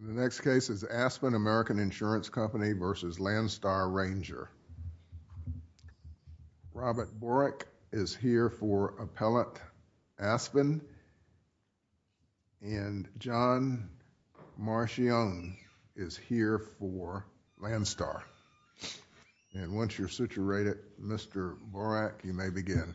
In the next case is Aspen American Insurance Company v. Landstar Ranger. Robert Borak is here for Appellant Aspen and John Marchione is here for Landstar. And once you're situated, Mr. Borak, you may begin.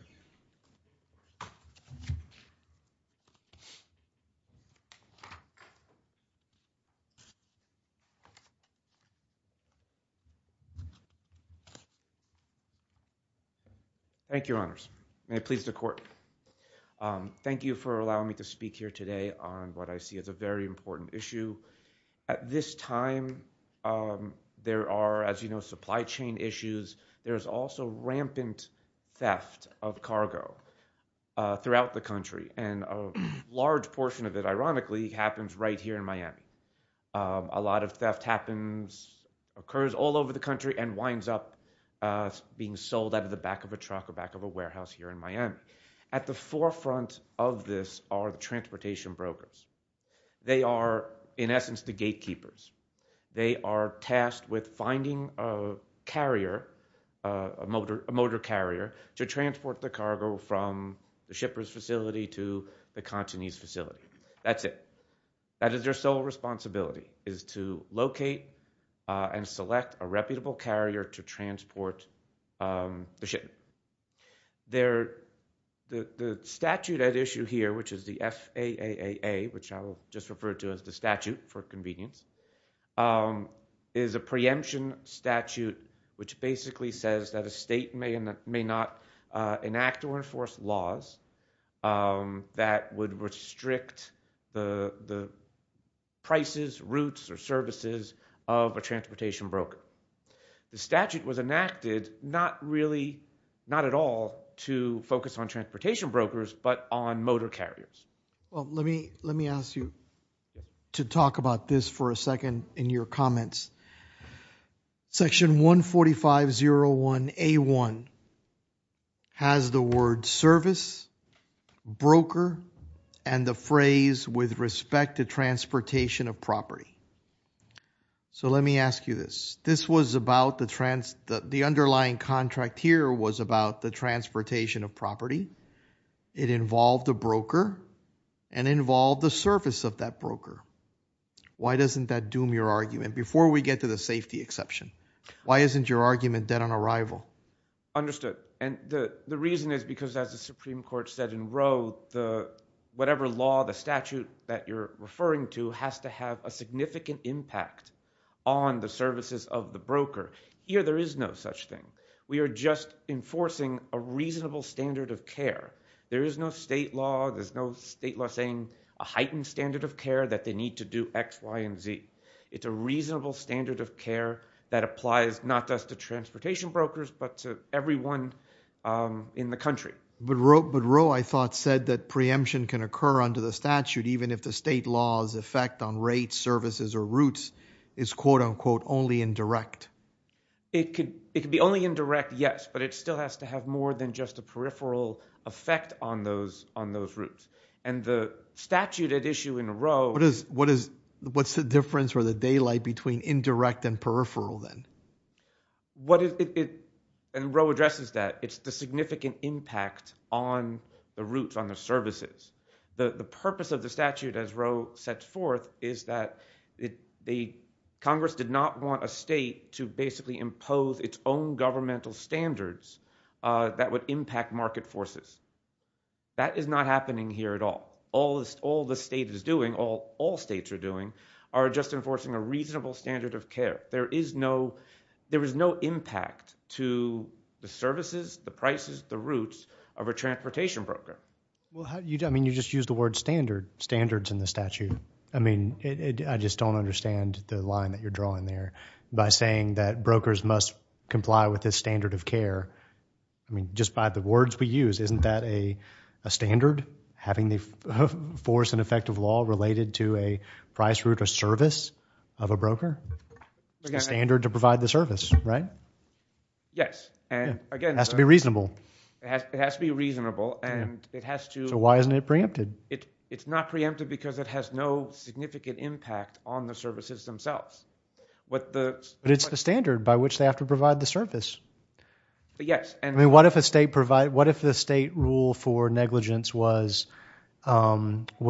Thank you, Your Honors. May it please the Court. Thank you for allowing me to speak here today on what I see as a very important issue. At this time, there are, as you know, supply chain issues. There's also rampant theft of cargo throughout the country. And a large portion of it, ironically, happens right here in Miami. A lot of theft occurs all over the country and winds up being sold out of the back of a truck or back of a warehouse here in Miami. At the forefront of this are the transportation brokers. They are, in essence, the gatekeepers. They are tasked with finding a carrier, a motor carrier, to transport the cargo from the shipper's facility to the Cantonese facility. That's it. That is their sole responsibility, is to locate and select a reputable carrier to transport the shipment. The statute at issue here, which is the FAAA, which I will just refer to as the statute for convenience, is a preemption statute which basically says that a state may or may not enact or enforce laws that would restrict the prices, routes, or services of a transportation broker. The statute was enacted not really, not at all, to focus on transportation brokers but on motor carriers. Let me ask you to talk about this for a second in your comments. Section 14501A1 has the words service, broker, and the phrase with respect to transportation of property. Let me ask you this. This was about the underlying contract here was about the transportation of property. It involved a broker and involved the service of that broker. Why doesn't that doom your argument? Before we get to the safety exception, why isn't your argument dead on arrival? Understood. The reason is because, as the Supreme Court said in Roe, whatever law, the statute that you're referring to has to have a significant impact on the services of the broker. Here there is no such thing. We are just enforcing a reasonable standard of care. There is no state law saying a heightened standard of care that they need to do X, Y, and Z. It's a reasonable standard of care that applies not just to transportation brokers but to everyone in the country. But Roe, I thought, said that preemption can occur under the statute even if the state law's effect on rates, services, or routes is quote-unquote only indirect. It could be only indirect, yes, but it still has to have more than just a peripheral effect on those routes. The statute at issue in Roe... What's the difference or the daylight between indirect and peripheral then? What it... and Roe addresses that. It's the significant impact on the routes, on the services. The purpose of the statute, as Roe sets forth, is that Congress did not want a state to basically impose its own governmental standards that would impact market forces. That is not happening here at all. All the state is doing, all states are doing, are just enforcing a reasonable standard of care. There is no... there is no impact to the services, the prices, the routes of a transportation broker. Well, how do you... I mean, you just used the word standard. Standards in the statute. I mean, I just don't understand the line that you're drawing there by saying that brokers must comply with this standard of care. I mean, just by the words we use, isn't that a standard, having the force and effect of It's a standard to provide the service, right? Yes. And, again... It has to be reasonable. It has to be reasonable and it has to... So why isn't it preempted? It's not preempted because it has no significant impact on the services themselves. What the... But it's the standard by which they have to provide the service. Yes. I mean, what if a state... what if the state rule for negligence was you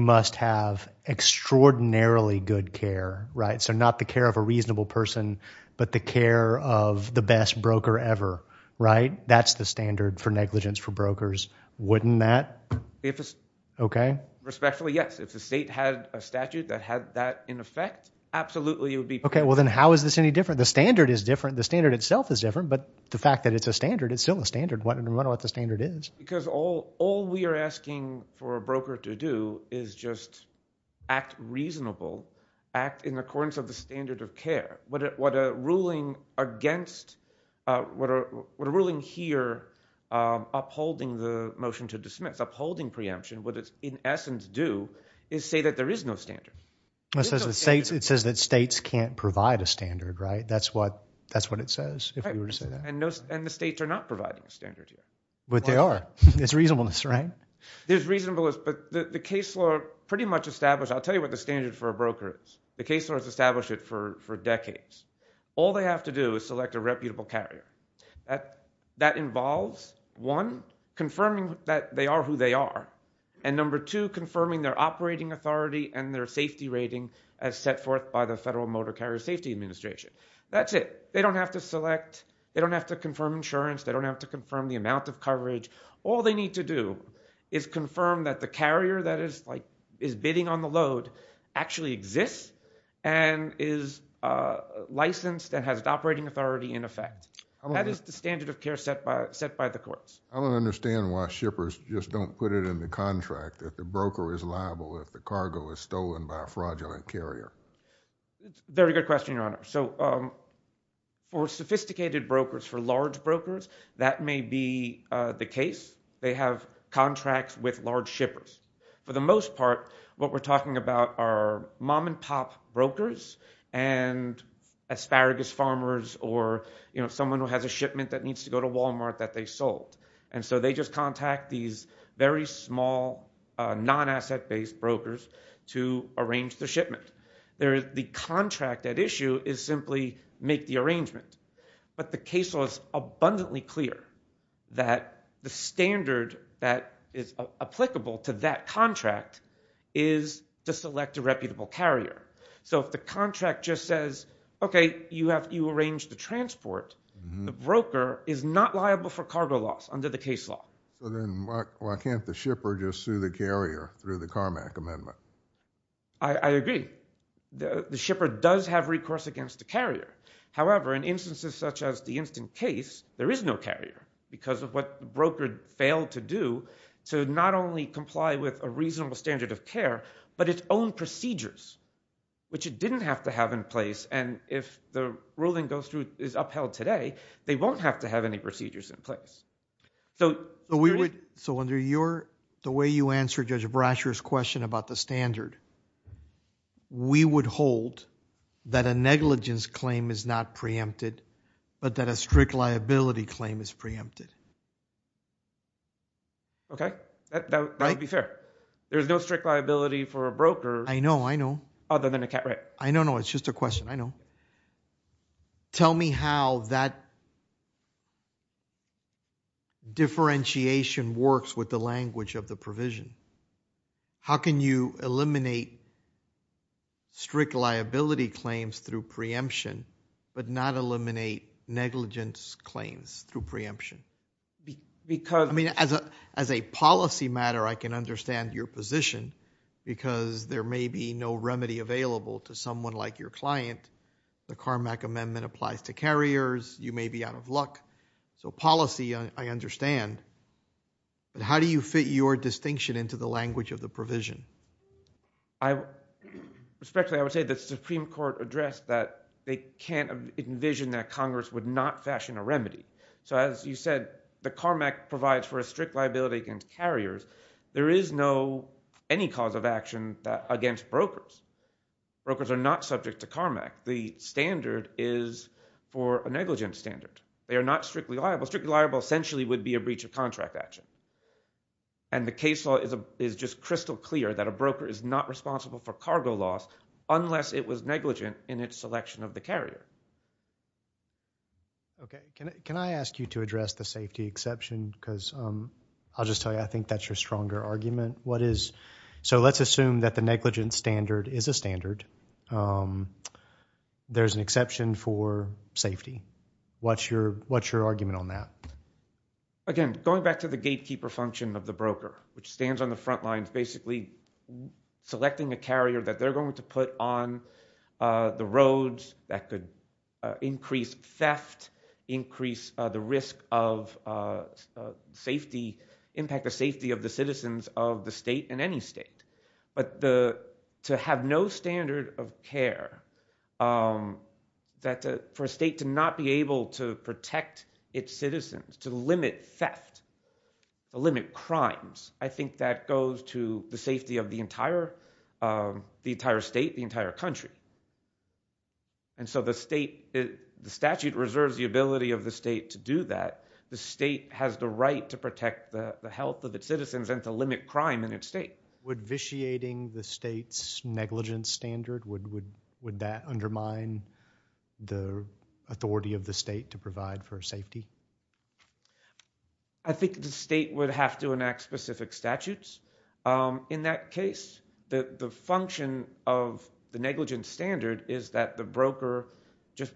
must have extraordinarily good care, right? So not the care of a reasonable person, but the care of the best broker ever, right? That's the standard for negligence for brokers, wouldn't that... If it's... Okay. Respectfully, yes. If the state had a statute that had that in effect, absolutely it would be... Okay. Well, then how is this any different? The standard is different. The standard itself is different. But the fact that it's a standard, it's still a standard. Why don't we know what the standard is? Because all we are asking for a broker to do is just act reasonable, act in accordance of the standard of care. What a ruling against... what a ruling here upholding the motion to dismiss, upholding preemption would in essence do is say that there is no standard. It says that states can't provide a standard, right? That's what it says, if we were to say that. And the states are not providing a standard here. But they are. It's reasonableness, right? There's reasonableness, but the case law pretty much established... I'll tell you what the standard for a broker is. The case law has established it for decades. All they have to do is select a reputable carrier. That involves, one, confirming that they are who they are, and number two, confirming their operating authority and their safety rating as set forth by the Federal Motor Carrier Safety Administration. That's it. They don't have to select, they don't have to confirm insurance, they don't have to confirm the amount of coverage. All they need to do is confirm that the carrier that is bidding on the load actually exists and is licensed and has an operating authority in effect. That is the standard of care set by the courts. I don't understand why shippers just don't put it in the contract if the broker is liable if the cargo is stolen by a fraudulent carrier. Very good question, Your Honor. So for sophisticated brokers, for large brokers, that may be the case. They have contracts with large shippers. For the most part, what we're talking about are mom-and-pop brokers and asparagus farmers or someone who has a shipment that needs to go to Walmart that they sold. So they just contact these very small, non-asset-based brokers to arrange the shipment. The contract at issue is simply make the arrangement. But the case law is abundantly clear that the standard that is applicable to that contract is to select a reputable carrier. So if the contract just says, okay, you arrange the transport, the broker is not liable for cargo loss under the case law. So then why can't the shipper just sue the carrier through the Carmack Amendment? I agree. The shipper does have recourse against the carrier. However, in instances such as the instant case, there is no carrier because of what the broker failed to do to not only comply with a reasonable standard of care, but its own procedures, which it didn't have to have in place. And if the ruling goes through, is upheld today, they won't have to have any procedures in place. So under the way you answered Judge Brasher's question about the standard, we would hold that a negligence claim is not preempted, but that a strict liability claim is preempted. Okay. That would be fair. There's no strict liability for a broker. I know. I know. Other than a cat. Right. I know. I know. It's just a question. I know. Tell me how that differentiation works with the language of the provision. How can you eliminate strict liability claims through preemption, but not eliminate negligence claims through preemption? Because I mean, as a policy matter, I can understand your position because there may be no remedy available to someone like your client. The CARMAC amendment applies to carriers. You may be out of luck. So policy, I understand, but how do you fit your distinction into the language of the provision? Respectfully, I would say the Supreme Court addressed that they can't envision that Congress would not fashion a remedy. So as you said, the CARMAC provides for a strict liability against carriers. There is no, any cause of action against brokers. Brokers are not subject to CARMAC. The standard is for a negligent standard. They are not strictly liable. Strictly liable essentially would be a breach of contract action. And the case law is just crystal clear that a broker is not responsible for cargo loss unless it was negligent in its selection of the carrier. Okay. Can I ask you to address the safety exception because I'll just tell you, I think that's your stronger argument. What is, so let's assume that the negligent standard is a standard. There's an exception for safety. What's your argument on that? Again, going back to the gatekeeper function of the broker, which stands on the front lines basically selecting a carrier that they're going to put on the roads that could increase the theft, increase the risk of safety, impact the safety of the citizens of the state and any state. But to have no standard of care, for a state to not be able to protect its citizens, to limit theft, to limit crimes, I think that goes to the safety of the entire state, the entire country. And so the state, the statute reserves the ability of the state to do that. The state has the right to protect the health of its citizens and to limit crime in its state. Would vitiating the state's negligence standard, would that undermine the authority of the state to provide for safety? I think the state would have to enact specific statutes. In that case, the function of the negligence standard is that the broker just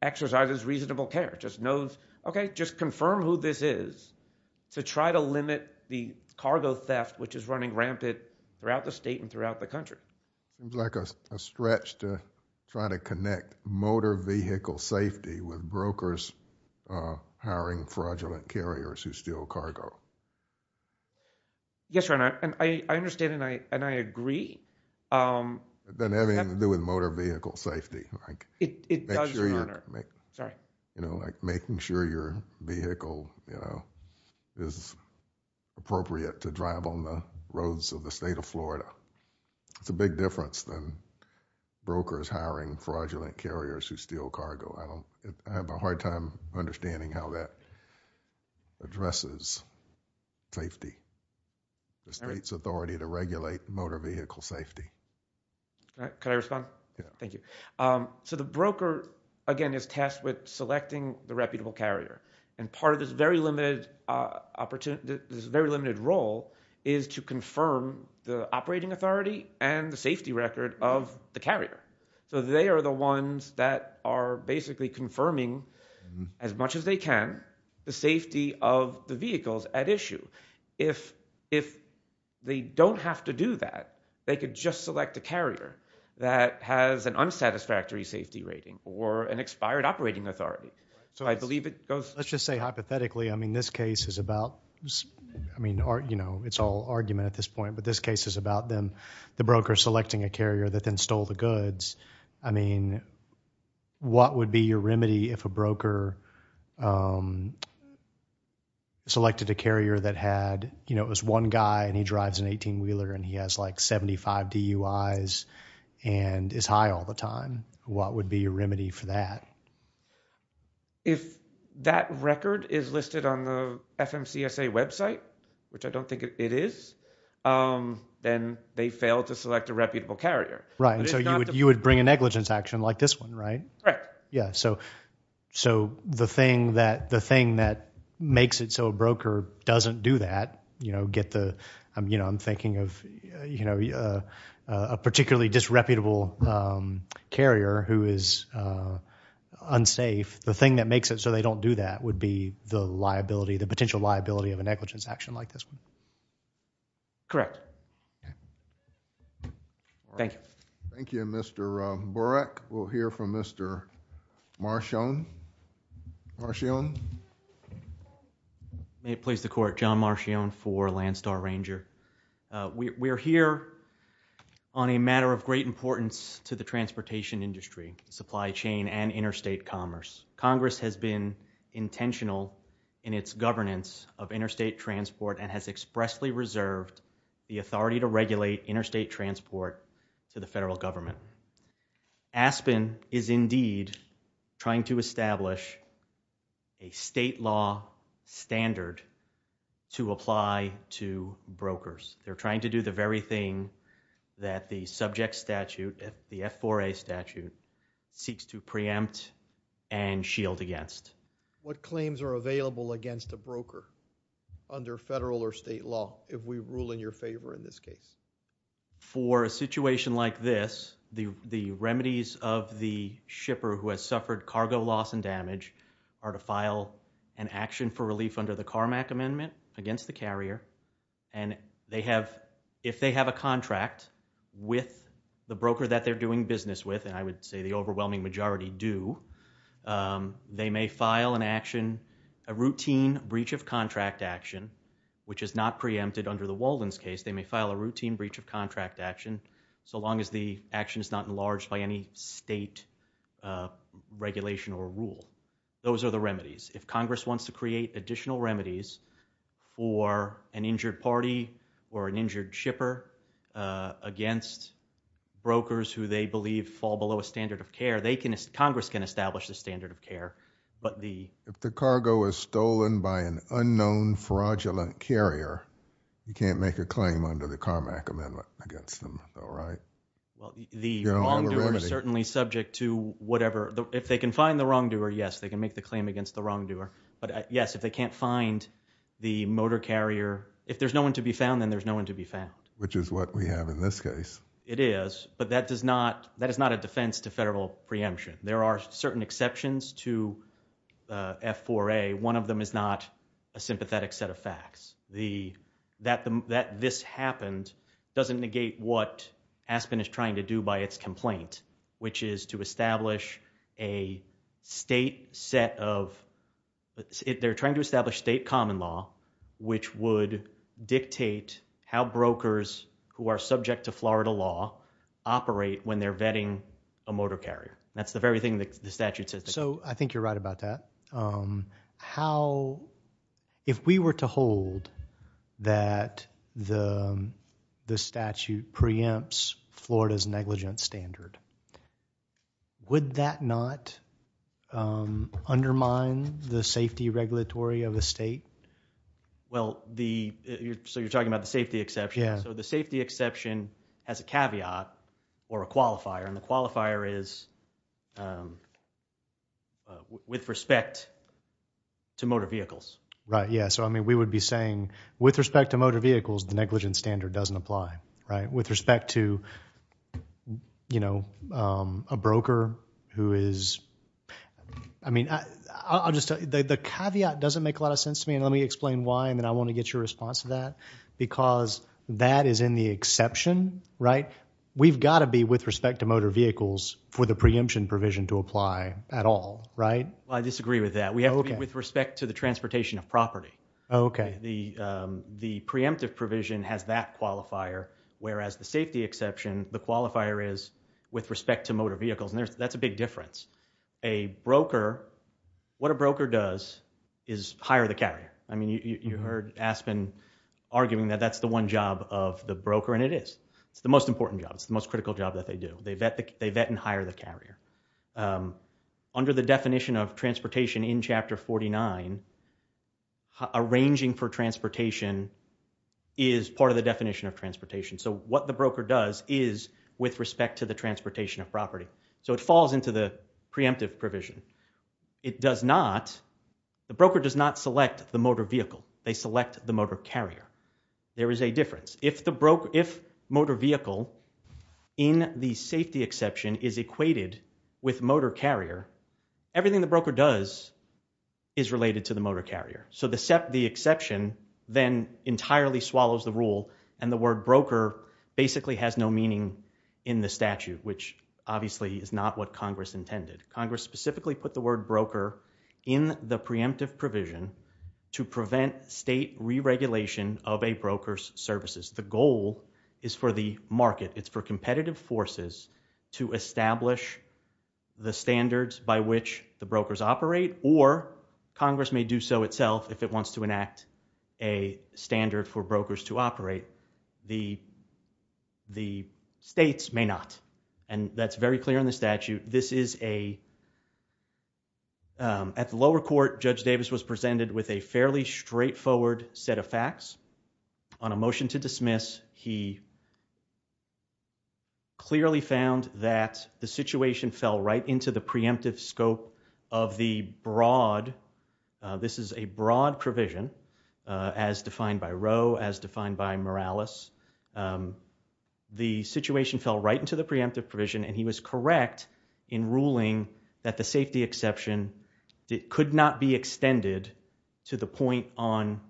exercises reasonable care, just knows, okay, just confirm who this is to try to limit the cargo theft, which is running rampant throughout the state and throughout the country. It's like a stretch to try to connect motor vehicle safety with brokers hiring fraudulent carriers who steal cargo. Yes, Your Honor. And I understand and I agree. It doesn't have anything to do with motor vehicle safety. It does, Your Honor. Sorry. Making sure your vehicle is appropriate to drive on the roads of the state of Florida. It's a big difference than brokers hiring fraudulent carriers who steal cargo. I have a hard time understanding how that addresses safety. The state's authority to regulate motor vehicle safety. Can I respond? Yeah. Thank you. So the broker, again, is tasked with selecting the reputable carrier. And part of this very limited role is to confirm the operating authority and the safety record of the carrier. So they are the ones that are basically confirming as much as they can the safety of the vehicles at issue. If they don't have to do that, they could just select a carrier that has an unsatisfactory safety rating or an expired operating authority. So I believe it goes. Let's just say hypothetically, I mean, this case is about, I mean, you know, it's all argument at this point, but this case is about them, the broker selecting a carrier that then stole the goods. I mean, what would be your remedy if a broker selected a carrier that had, you know, it was one guy and he drives an 18-wheeler and he has like 75 DUIs and is high all the time? What would be your remedy for that? If that record is listed on the FMCSA website, which I don't think it is, then they failed to select a reputable carrier. Right. And so you would bring a negligence action like this one, right? Right. Yeah. So the thing that makes it so a broker doesn't do that, you know, get the, I'm thinking of, you know, a particularly disreputable carrier who is unsafe, the thing that makes it so they don't do that would be the liability, the potential liability of a negligence action like this one. Correct. Okay. Thank you. Thank you. And Mr. Borak, we'll hear from Mr. Marchione. Marchione? May it please the Court. John Marchione for Landstar Ranger. We're here on a matter of great importance to the transportation industry, supply chain and interstate commerce. Congress has been intentional in its governance of interstate transport and has expressly preserved the authority to regulate interstate transport to the federal government. Aspen is indeed trying to establish a state law standard to apply to brokers. They're trying to do the very thing that the subject statute, the F4A statute, seeks to preempt and shield against. What claims are available against a broker under federal or state law if we rule in your favor in this case? For a situation like this, the remedies of the shipper who has suffered cargo loss and damage are to file an action for relief under the Carmack Amendment against the carrier and they have, if they have a contract with the broker that they're doing business with, and I would say the overwhelming majority do, they may file an action, a routine breach of contract action, which is not preempted under the Walden's case. They may file a routine breach of contract action so long as the action is not enlarged by any state regulation or rule. Those are the remedies. If Congress wants to create additional remedies for an injured party or an injured shipper against brokers who they believe fall below a standard of care, Congress can establish a standard of care. If the cargo is stolen by an unknown fraudulent carrier, you can't make a claim under the Carmack Amendment against them, right? The wrongdoer is certainly subject to whatever. If they can find the wrongdoer, yes, they can make the claim against the wrongdoer. But yes, if they can't find the motor carrier, if there's no one to be found, then there's no one to be found. Which is what we have in this case. It is, but that is not a defense to federal preemption. There are certain exceptions to F4A. One of them is not a sympathetic set of facts. That this happened doesn't negate what Aspen is trying to do by its complaint, which is to establish a state set of, they're trying to establish state common law which would dictate how brokers who are subject to Florida law operate when they're vetting a motor carrier. That's the very thing the statute says. So I think you're right about that. How, if we were to hold that the statute preempts Florida's negligence standard, would that not undermine the safety regulatory of the state? Well, so you're talking about the safety exception. So the safety exception has a caveat or a qualifier. And the qualifier is with respect to motor vehicles. Right, yeah. So I mean, we would be saying with respect to motor vehicles, the negligence standard doesn't apply. Right? With respect to, you know, a broker who is, I mean, I'll just tell you, the caveat doesn't make a lot of sense to me. And let me explain why. And then I want to get your response to that. Because that is in the exception, right? We've got to be with respect to motor vehicles for the preemption provision to apply at all. Right? Well, I disagree with that. We have to be with respect to the transportation of property. Okay. The preemptive provision has that qualifier, whereas the safety exception, the qualifier is with respect to motor vehicles. And that's a big difference. A broker, what a broker does is hire the carrier. I mean, you heard Aspen arguing that that's the one job of the broker, and it is. It's the most important job. It's the most critical job that they do. They vet and hire the carrier. Under the definition of transportation in Chapter 49, arranging for transportation is part of the definition of transportation. So what the broker does is with respect to the transportation of property. So it falls into the preemptive provision. It does not, the broker does not select the motor vehicle. They select the motor carrier. There is a difference. If motor vehicle in the safety exception is equated with motor carrier, everything the broker does is related to the motor carrier. So the exception then entirely swallows the rule, and the word broker basically has no meaning in the statute, which obviously is not what Congress intended. Congress specifically put the word broker in the preemptive provision to prevent state re-regulation of a broker's services. The goal is for the market, it's for competitive forces to establish the standards by which the brokers operate, or Congress may do so itself if it wants to enact a standard for brokers to operate. The states may not, and that's very clear in the statute. This is a, at the lower court, Judge Davis was presented with a fairly straightforward set of facts. On a motion to dismiss, he clearly found that the situation fell right into the preemptive scope of the broad, this is a broad provision as defined by Roe, as defined by Morales. The situation fell right into the preemptive provision, and he was correct in ruling that the safety exception could not be extended to the point on,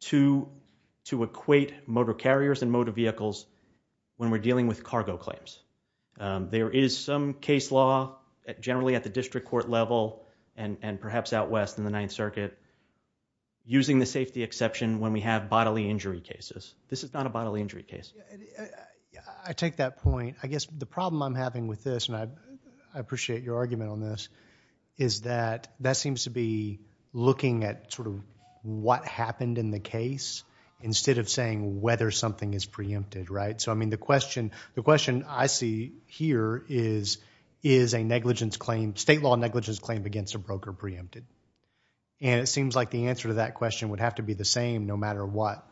to equate motor carriers and motor vehicles when we're dealing with cargo claims. There is some case law, generally at the district court level, and perhaps out west in the Ninth Circuit, using the safety exception when we have bodily injury cases. This is not a bodily injury case. I take that point. I guess the problem I'm having with this, and I appreciate your argument on this, is that that seems to be looking at sort of what happened in the case instead of saying whether something is preempted, right? So I mean, the question I see here is, is a negligence claim, state law negligence claim against a broker preempted? And it seems like the answer to that question would have to be the same no matter what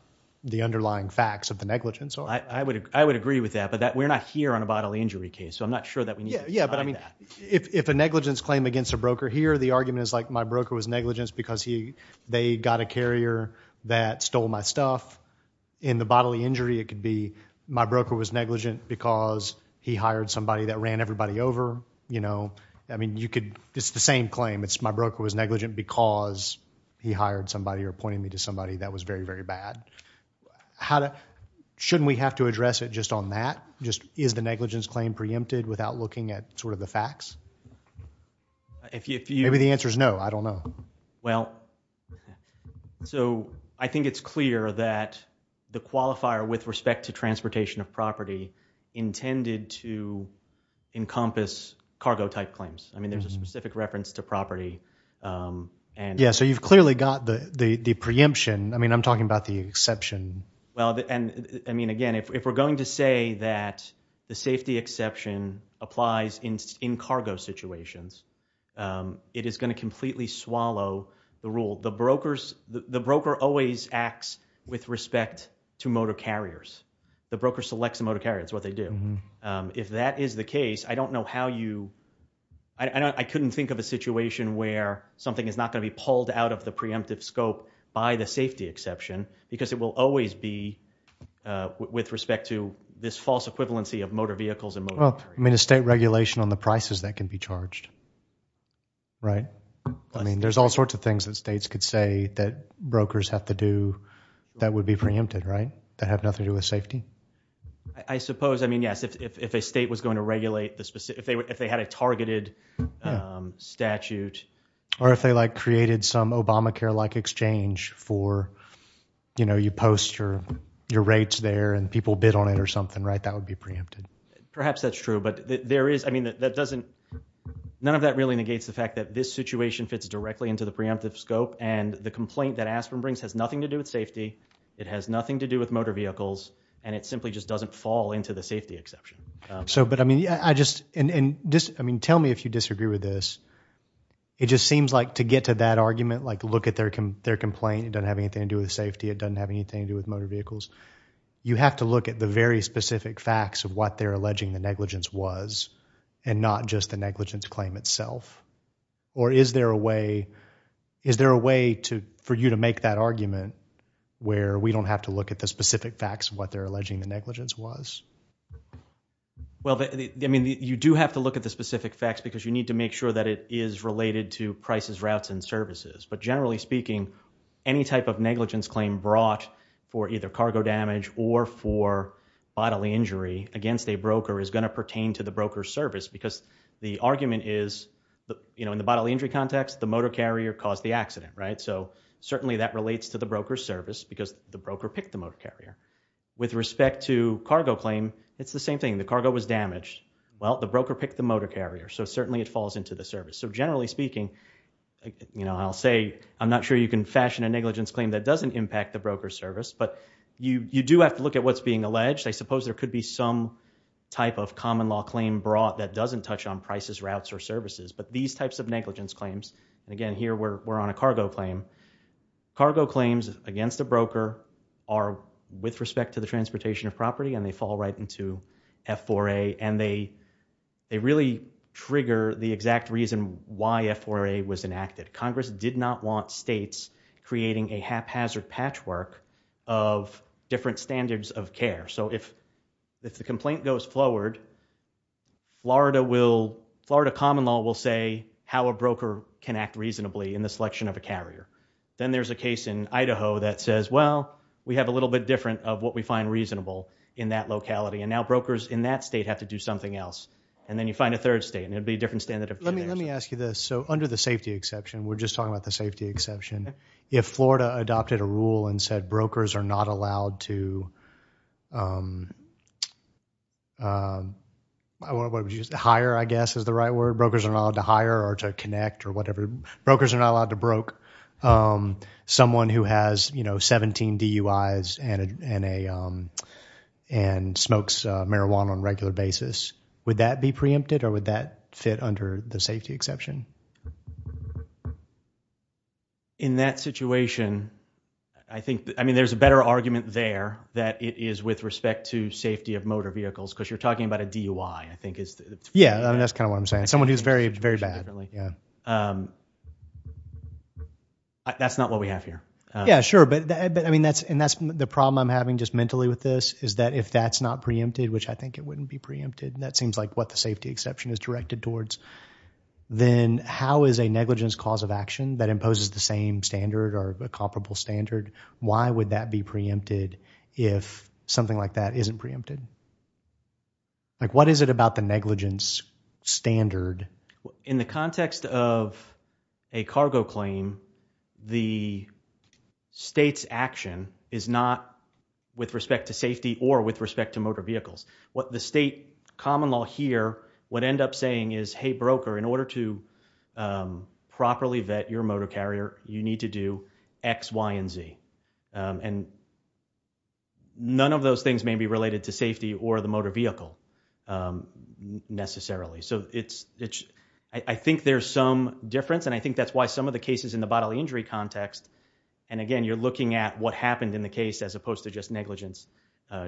the underlying facts of the negligence are. I would agree with that, but we're not here on a bodily injury case, so I'm not sure that we need to deny that. Yeah, but I mean, if a negligence claim against a broker here, the argument is like my broker was negligent because they got a carrier that stole my stuff. In the bodily injury, it could be my broker was negligent because he hired somebody that ran everybody over. I mean, you could, it's the same claim. It's my broker was negligent because he hired somebody or appointed me to somebody that was very, very bad. Shouldn't we have to address it just on that? Just is the negligence claim preempted without looking at sort of the facts? Maybe the answer is no, I don't know. Well, so I think it's clear that the qualifier with respect to transportation of property intended to encompass cargo type claims. I mean, there's a specific reference to property. Yeah, so you've clearly got the preemption. I mean, I'm talking about the exception. Well, and I mean, again, if we're going to say that the safety exception applies in cargo situations, it is going to completely swallow the rule. The broker always acts with respect to motor carriers. The broker selects the motor carrier. It's what they do. If that is the case, I don't know how you, I couldn't think of a situation where something is not going to be pulled out of the preemptive scope by the safety exception because it will always be with respect to this false equivalency of motor vehicles and motor carriers. Well, I mean, a state regulation on the prices that can be charged, right? I mean, there's all sorts of things that states could say that brokers have to do that would be preempted, right? That have nothing to do with safety? I suppose, I mean, yes, if a state was going to regulate the specific, if they had a targeted statute. Or if they, like, created some Obamacare-like exchange for, you know, you post your rates there and people bid on it or something, right? That would be preempted. Perhaps that's true, but there is, I mean, that doesn't, none of that really negates the fact that this situation fits directly into the preemptive scope and the complaint that Aspen brings has nothing to do with safety. It has nothing to do with motor vehicles. And it simply just doesn't fall into the safety exception. So, but I mean, I just, and just, I mean, tell me if you disagree with this. It just seems like to get to that argument, like, look at their complaint, it doesn't have anything to do with safety. It doesn't have anything to do with motor vehicles. You have to look at the very specific facts of what they're alleging the negligence was and not just the negligence claim itself. Or is there a way, is there a way to, for you to make that argument where we don't have to look at the specific facts of what they're alleging the negligence was? Well, I mean, you do have to look at the specific facts because you need to make sure that it is related to prices, routes, and services. But generally speaking, any type of negligence claim brought for either cargo damage or for bodily injury against a broker is going to pertain to the broker's service because the you know, in the bodily injury context, the motor carrier caused the accident, right? So certainly that relates to the broker's service because the broker picked the motor carrier. With respect to cargo claim, it's the same thing. The cargo was damaged. Well, the broker picked the motor carrier. So certainly it falls into the service. So generally speaking, you know, I'll say I'm not sure you can fashion a negligence claim that doesn't impact the broker's service. But you do have to look at what's being alleged. I suppose there could be some type of common law claim brought that doesn't touch on prices, routes, or services. But these types of negligence claims, and again, here we're on a cargo claim. Cargo claims against a broker are with respect to the transportation of property and they fall right into F4A. And they really trigger the exact reason why F4A was enacted. Congress did not want states creating a haphazard patchwork of different standards of care. So if the complaint goes forward, Florida will, Florida common law will say how a broker can act reasonably in the selection of a carrier. Then there's a case in Idaho that says, well, we have a little bit different of what we find reasonable in that locality. And now brokers in that state have to do something else. And then you find a third state and it would be a different standard of care. Let me ask you this. So under the safety exception, we're just talking about the safety exception. If Florida adopted a rule and said brokers are not allowed to hire, I guess is the right word. Brokers are not allowed to hire or to connect or whatever. Brokers are not allowed to broke. Someone who has 17 DUIs and smokes marijuana on a regular basis, would that be preempted or would that fit under the safety exception? In that situation, I think, I mean, there's a better argument there that it is with respect to safety of motor vehicles because you're talking about a DUI, I think. Yeah. That's kind of what I'm saying. Someone who's very, very bad. That's not what we have here. Yeah, sure. But I mean, that's the problem I'm having just mentally with this is that if that's not preempted, which I think it wouldn't be preempted, that seems like what the safety exception is directed towards, then how is a negligence cause of action that imposes the same standard or a comparable standard, why would that be preempted if something like that isn't preempted? Like, what is it about the negligence standard? In the context of a cargo claim, the state's action is not with respect to safety or with respect to motor vehicles. What the state common law here would end up saying is, hey, broker, in order to properly vet your motor carrier, you need to do X, Y, and Z. And none of those things may be related to safety or the motor vehicle necessarily. So it's, I think there's some difference and I think that's why some of the cases in the bodily injury context, and again, you're looking at what happened in the case as opposed to just negligence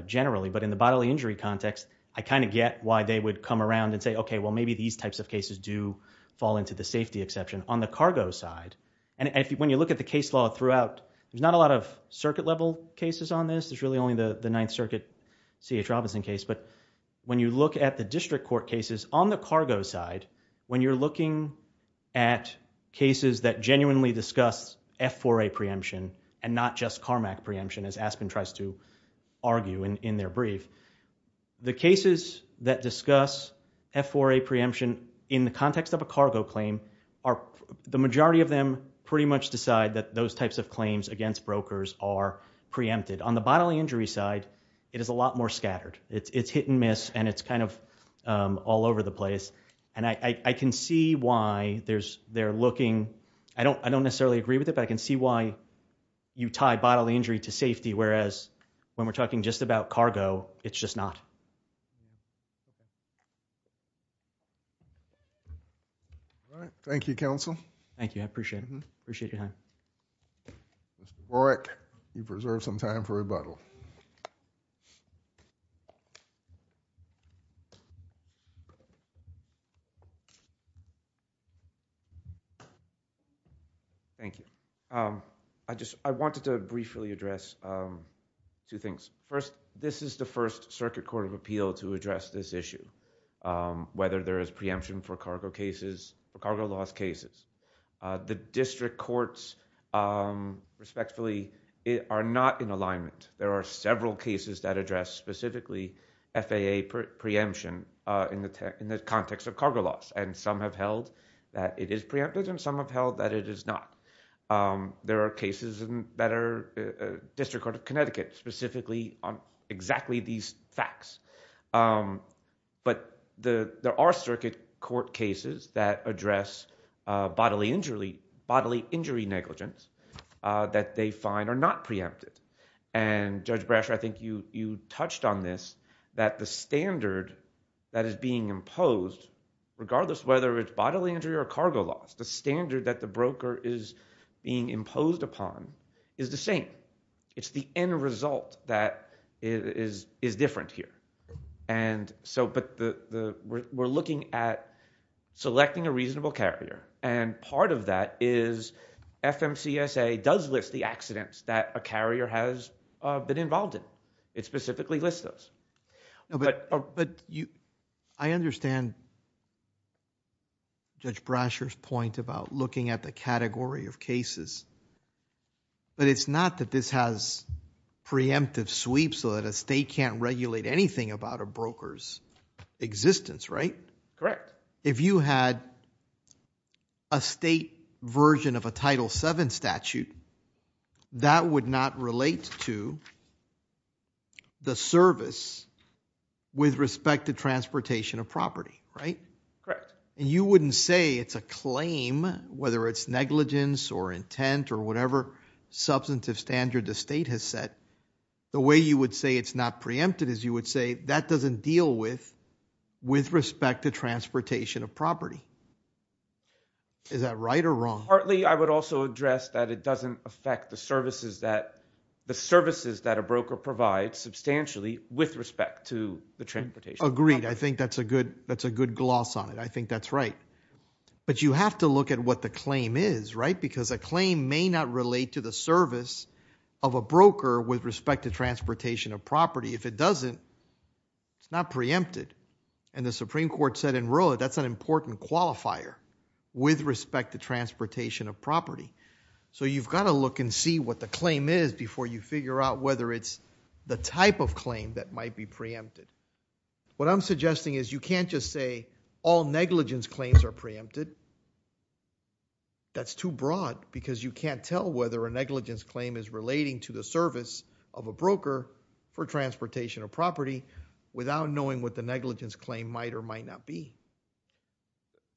generally. But in the bodily injury context, I kind of get why they would come around and say, okay, well, maybe these types of cases do fall into the safety exception. On the cargo side, and when you look at the case law throughout, there's not a lot of circuit level cases on this. There's really only the Ninth Circuit C.H. Robinson case. But when you look at the district court cases, on the cargo side, when you're looking at cases that genuinely discuss F4A preemption and not just Carmack preemption, as Aspen tries to argue in their brief, the cases that discuss F4A preemption in the context of a cargo claim, the majority of them pretty much decide that those types of claims against brokers are preempted. On the bodily injury side, it is a lot more scattered. It's hit and miss and it's kind of all over the place. And I can see why they're looking, I don't necessarily agree with it, but I can see why you tie bodily injury to safety, whereas when we're talking just about cargo, it's just not. All right. Thank you, counsel. Thank you. I appreciate it. Mr. Borick, you preserve some time for rebuttal. Thank you. I wanted to briefly address two things. First, this is the first Circuit Court of Appeal to address this issue, whether there is preemption for cargo cases or cargo loss cases. The district courts, respectfully, are not in alignment. There are several cases that address specifically FAA preemption in the context of cargo loss and some have held that it is preempted and some have held that it is not. There are cases that are district court of Connecticut specifically on exactly these facts. But there are circuit court cases that address bodily injury negligence that they find are not preempted. And, Judge Brasher, I think you touched on this, that the standard that is being imposed, regardless whether it's bodily injury or cargo loss, the standard that the broker is being imposed upon is the same. It's the end result that is different here. But we're looking at selecting a reasonable carrier and part of that is FMCSA does list the accidents that a carrier has been involved in. It specifically lists those. But I understand Judge Brasher's point about looking at the category of cases, but it's not that this has preemptive sweeps so that a state can't regulate anything about a broker's existence, right? Correct. But if you had a state version of a Title VII statute, that would not relate to the service with respect to transportation of property, right? Correct. And you wouldn't say it's a claim, whether it's negligence or intent or whatever substantive standard the state has set. The way you would say it's not preempted is you would say that doesn't deal with respect to transportation of property. Is that right or wrong? Partly I would also address that it doesn't affect the services that a broker provides substantially with respect to the transportation. Agreed. I think that's a good gloss on it. I think that's right. But you have to look at what the claim is, right? Because a claim may not relate to the service of a broker with respect to transportation of property. If it doesn't, it's not preempted. And the Supreme Court said in Roe, that's an important qualifier with respect to transportation of property. So you've got to look and see what the claim is before you figure out whether it's the type of claim that might be preempted. What I'm suggesting is you can't just say all negligence claims are preempted. That's too broad because you can't tell whether a negligence claim is relating to the service of a broker for transportation of property without knowing what the negligence claim might or might not be.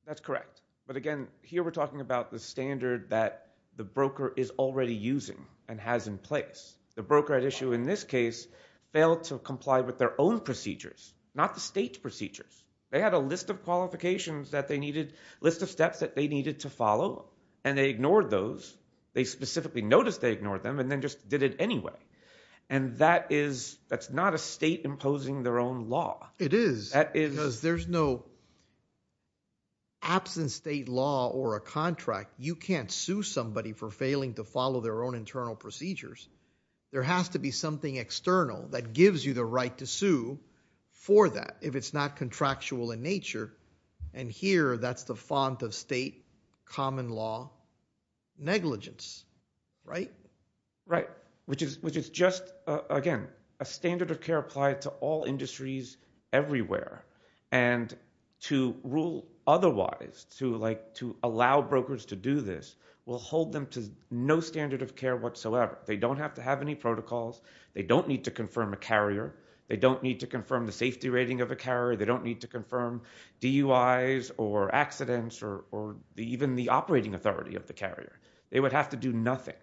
That's correct. But again, here we're talking about the standard that the broker is already using and has in place. The broker at issue in this case failed to comply with their own procedures, not the state's procedures. They had a list of qualifications that they needed, a list of steps that they needed to follow, and they ignored those. They specifically noticed they ignored them and then just did it anyway. And that is, that's not a state imposing their own law. It is. That is. Because there's no absence state law or a contract. You can't sue somebody for failing to follow their own internal procedures. There has to be something external that gives you the right to sue for that if it's not contractual in nature. And here, that's the font of state common law negligence. Right? Right. Which is just, again, a standard of care applied to all industries everywhere. And to rule otherwise, to allow brokers to do this, will hold them to no standard of care whatsoever. They don't have to have any protocols. They don't need to confirm a carrier. They don't need to confirm the safety rating of a carrier. They don't need to confirm DUIs or accidents or even the operating authority of the carrier. They would have to do nothing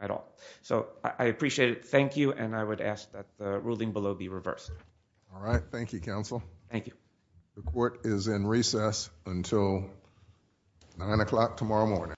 at all. So, I appreciate it. Thank you. And I would ask that the ruling below be reversed. All right. Thank you, counsel. Thank you. The court is in recess until 9 o'clock tomorrow morning.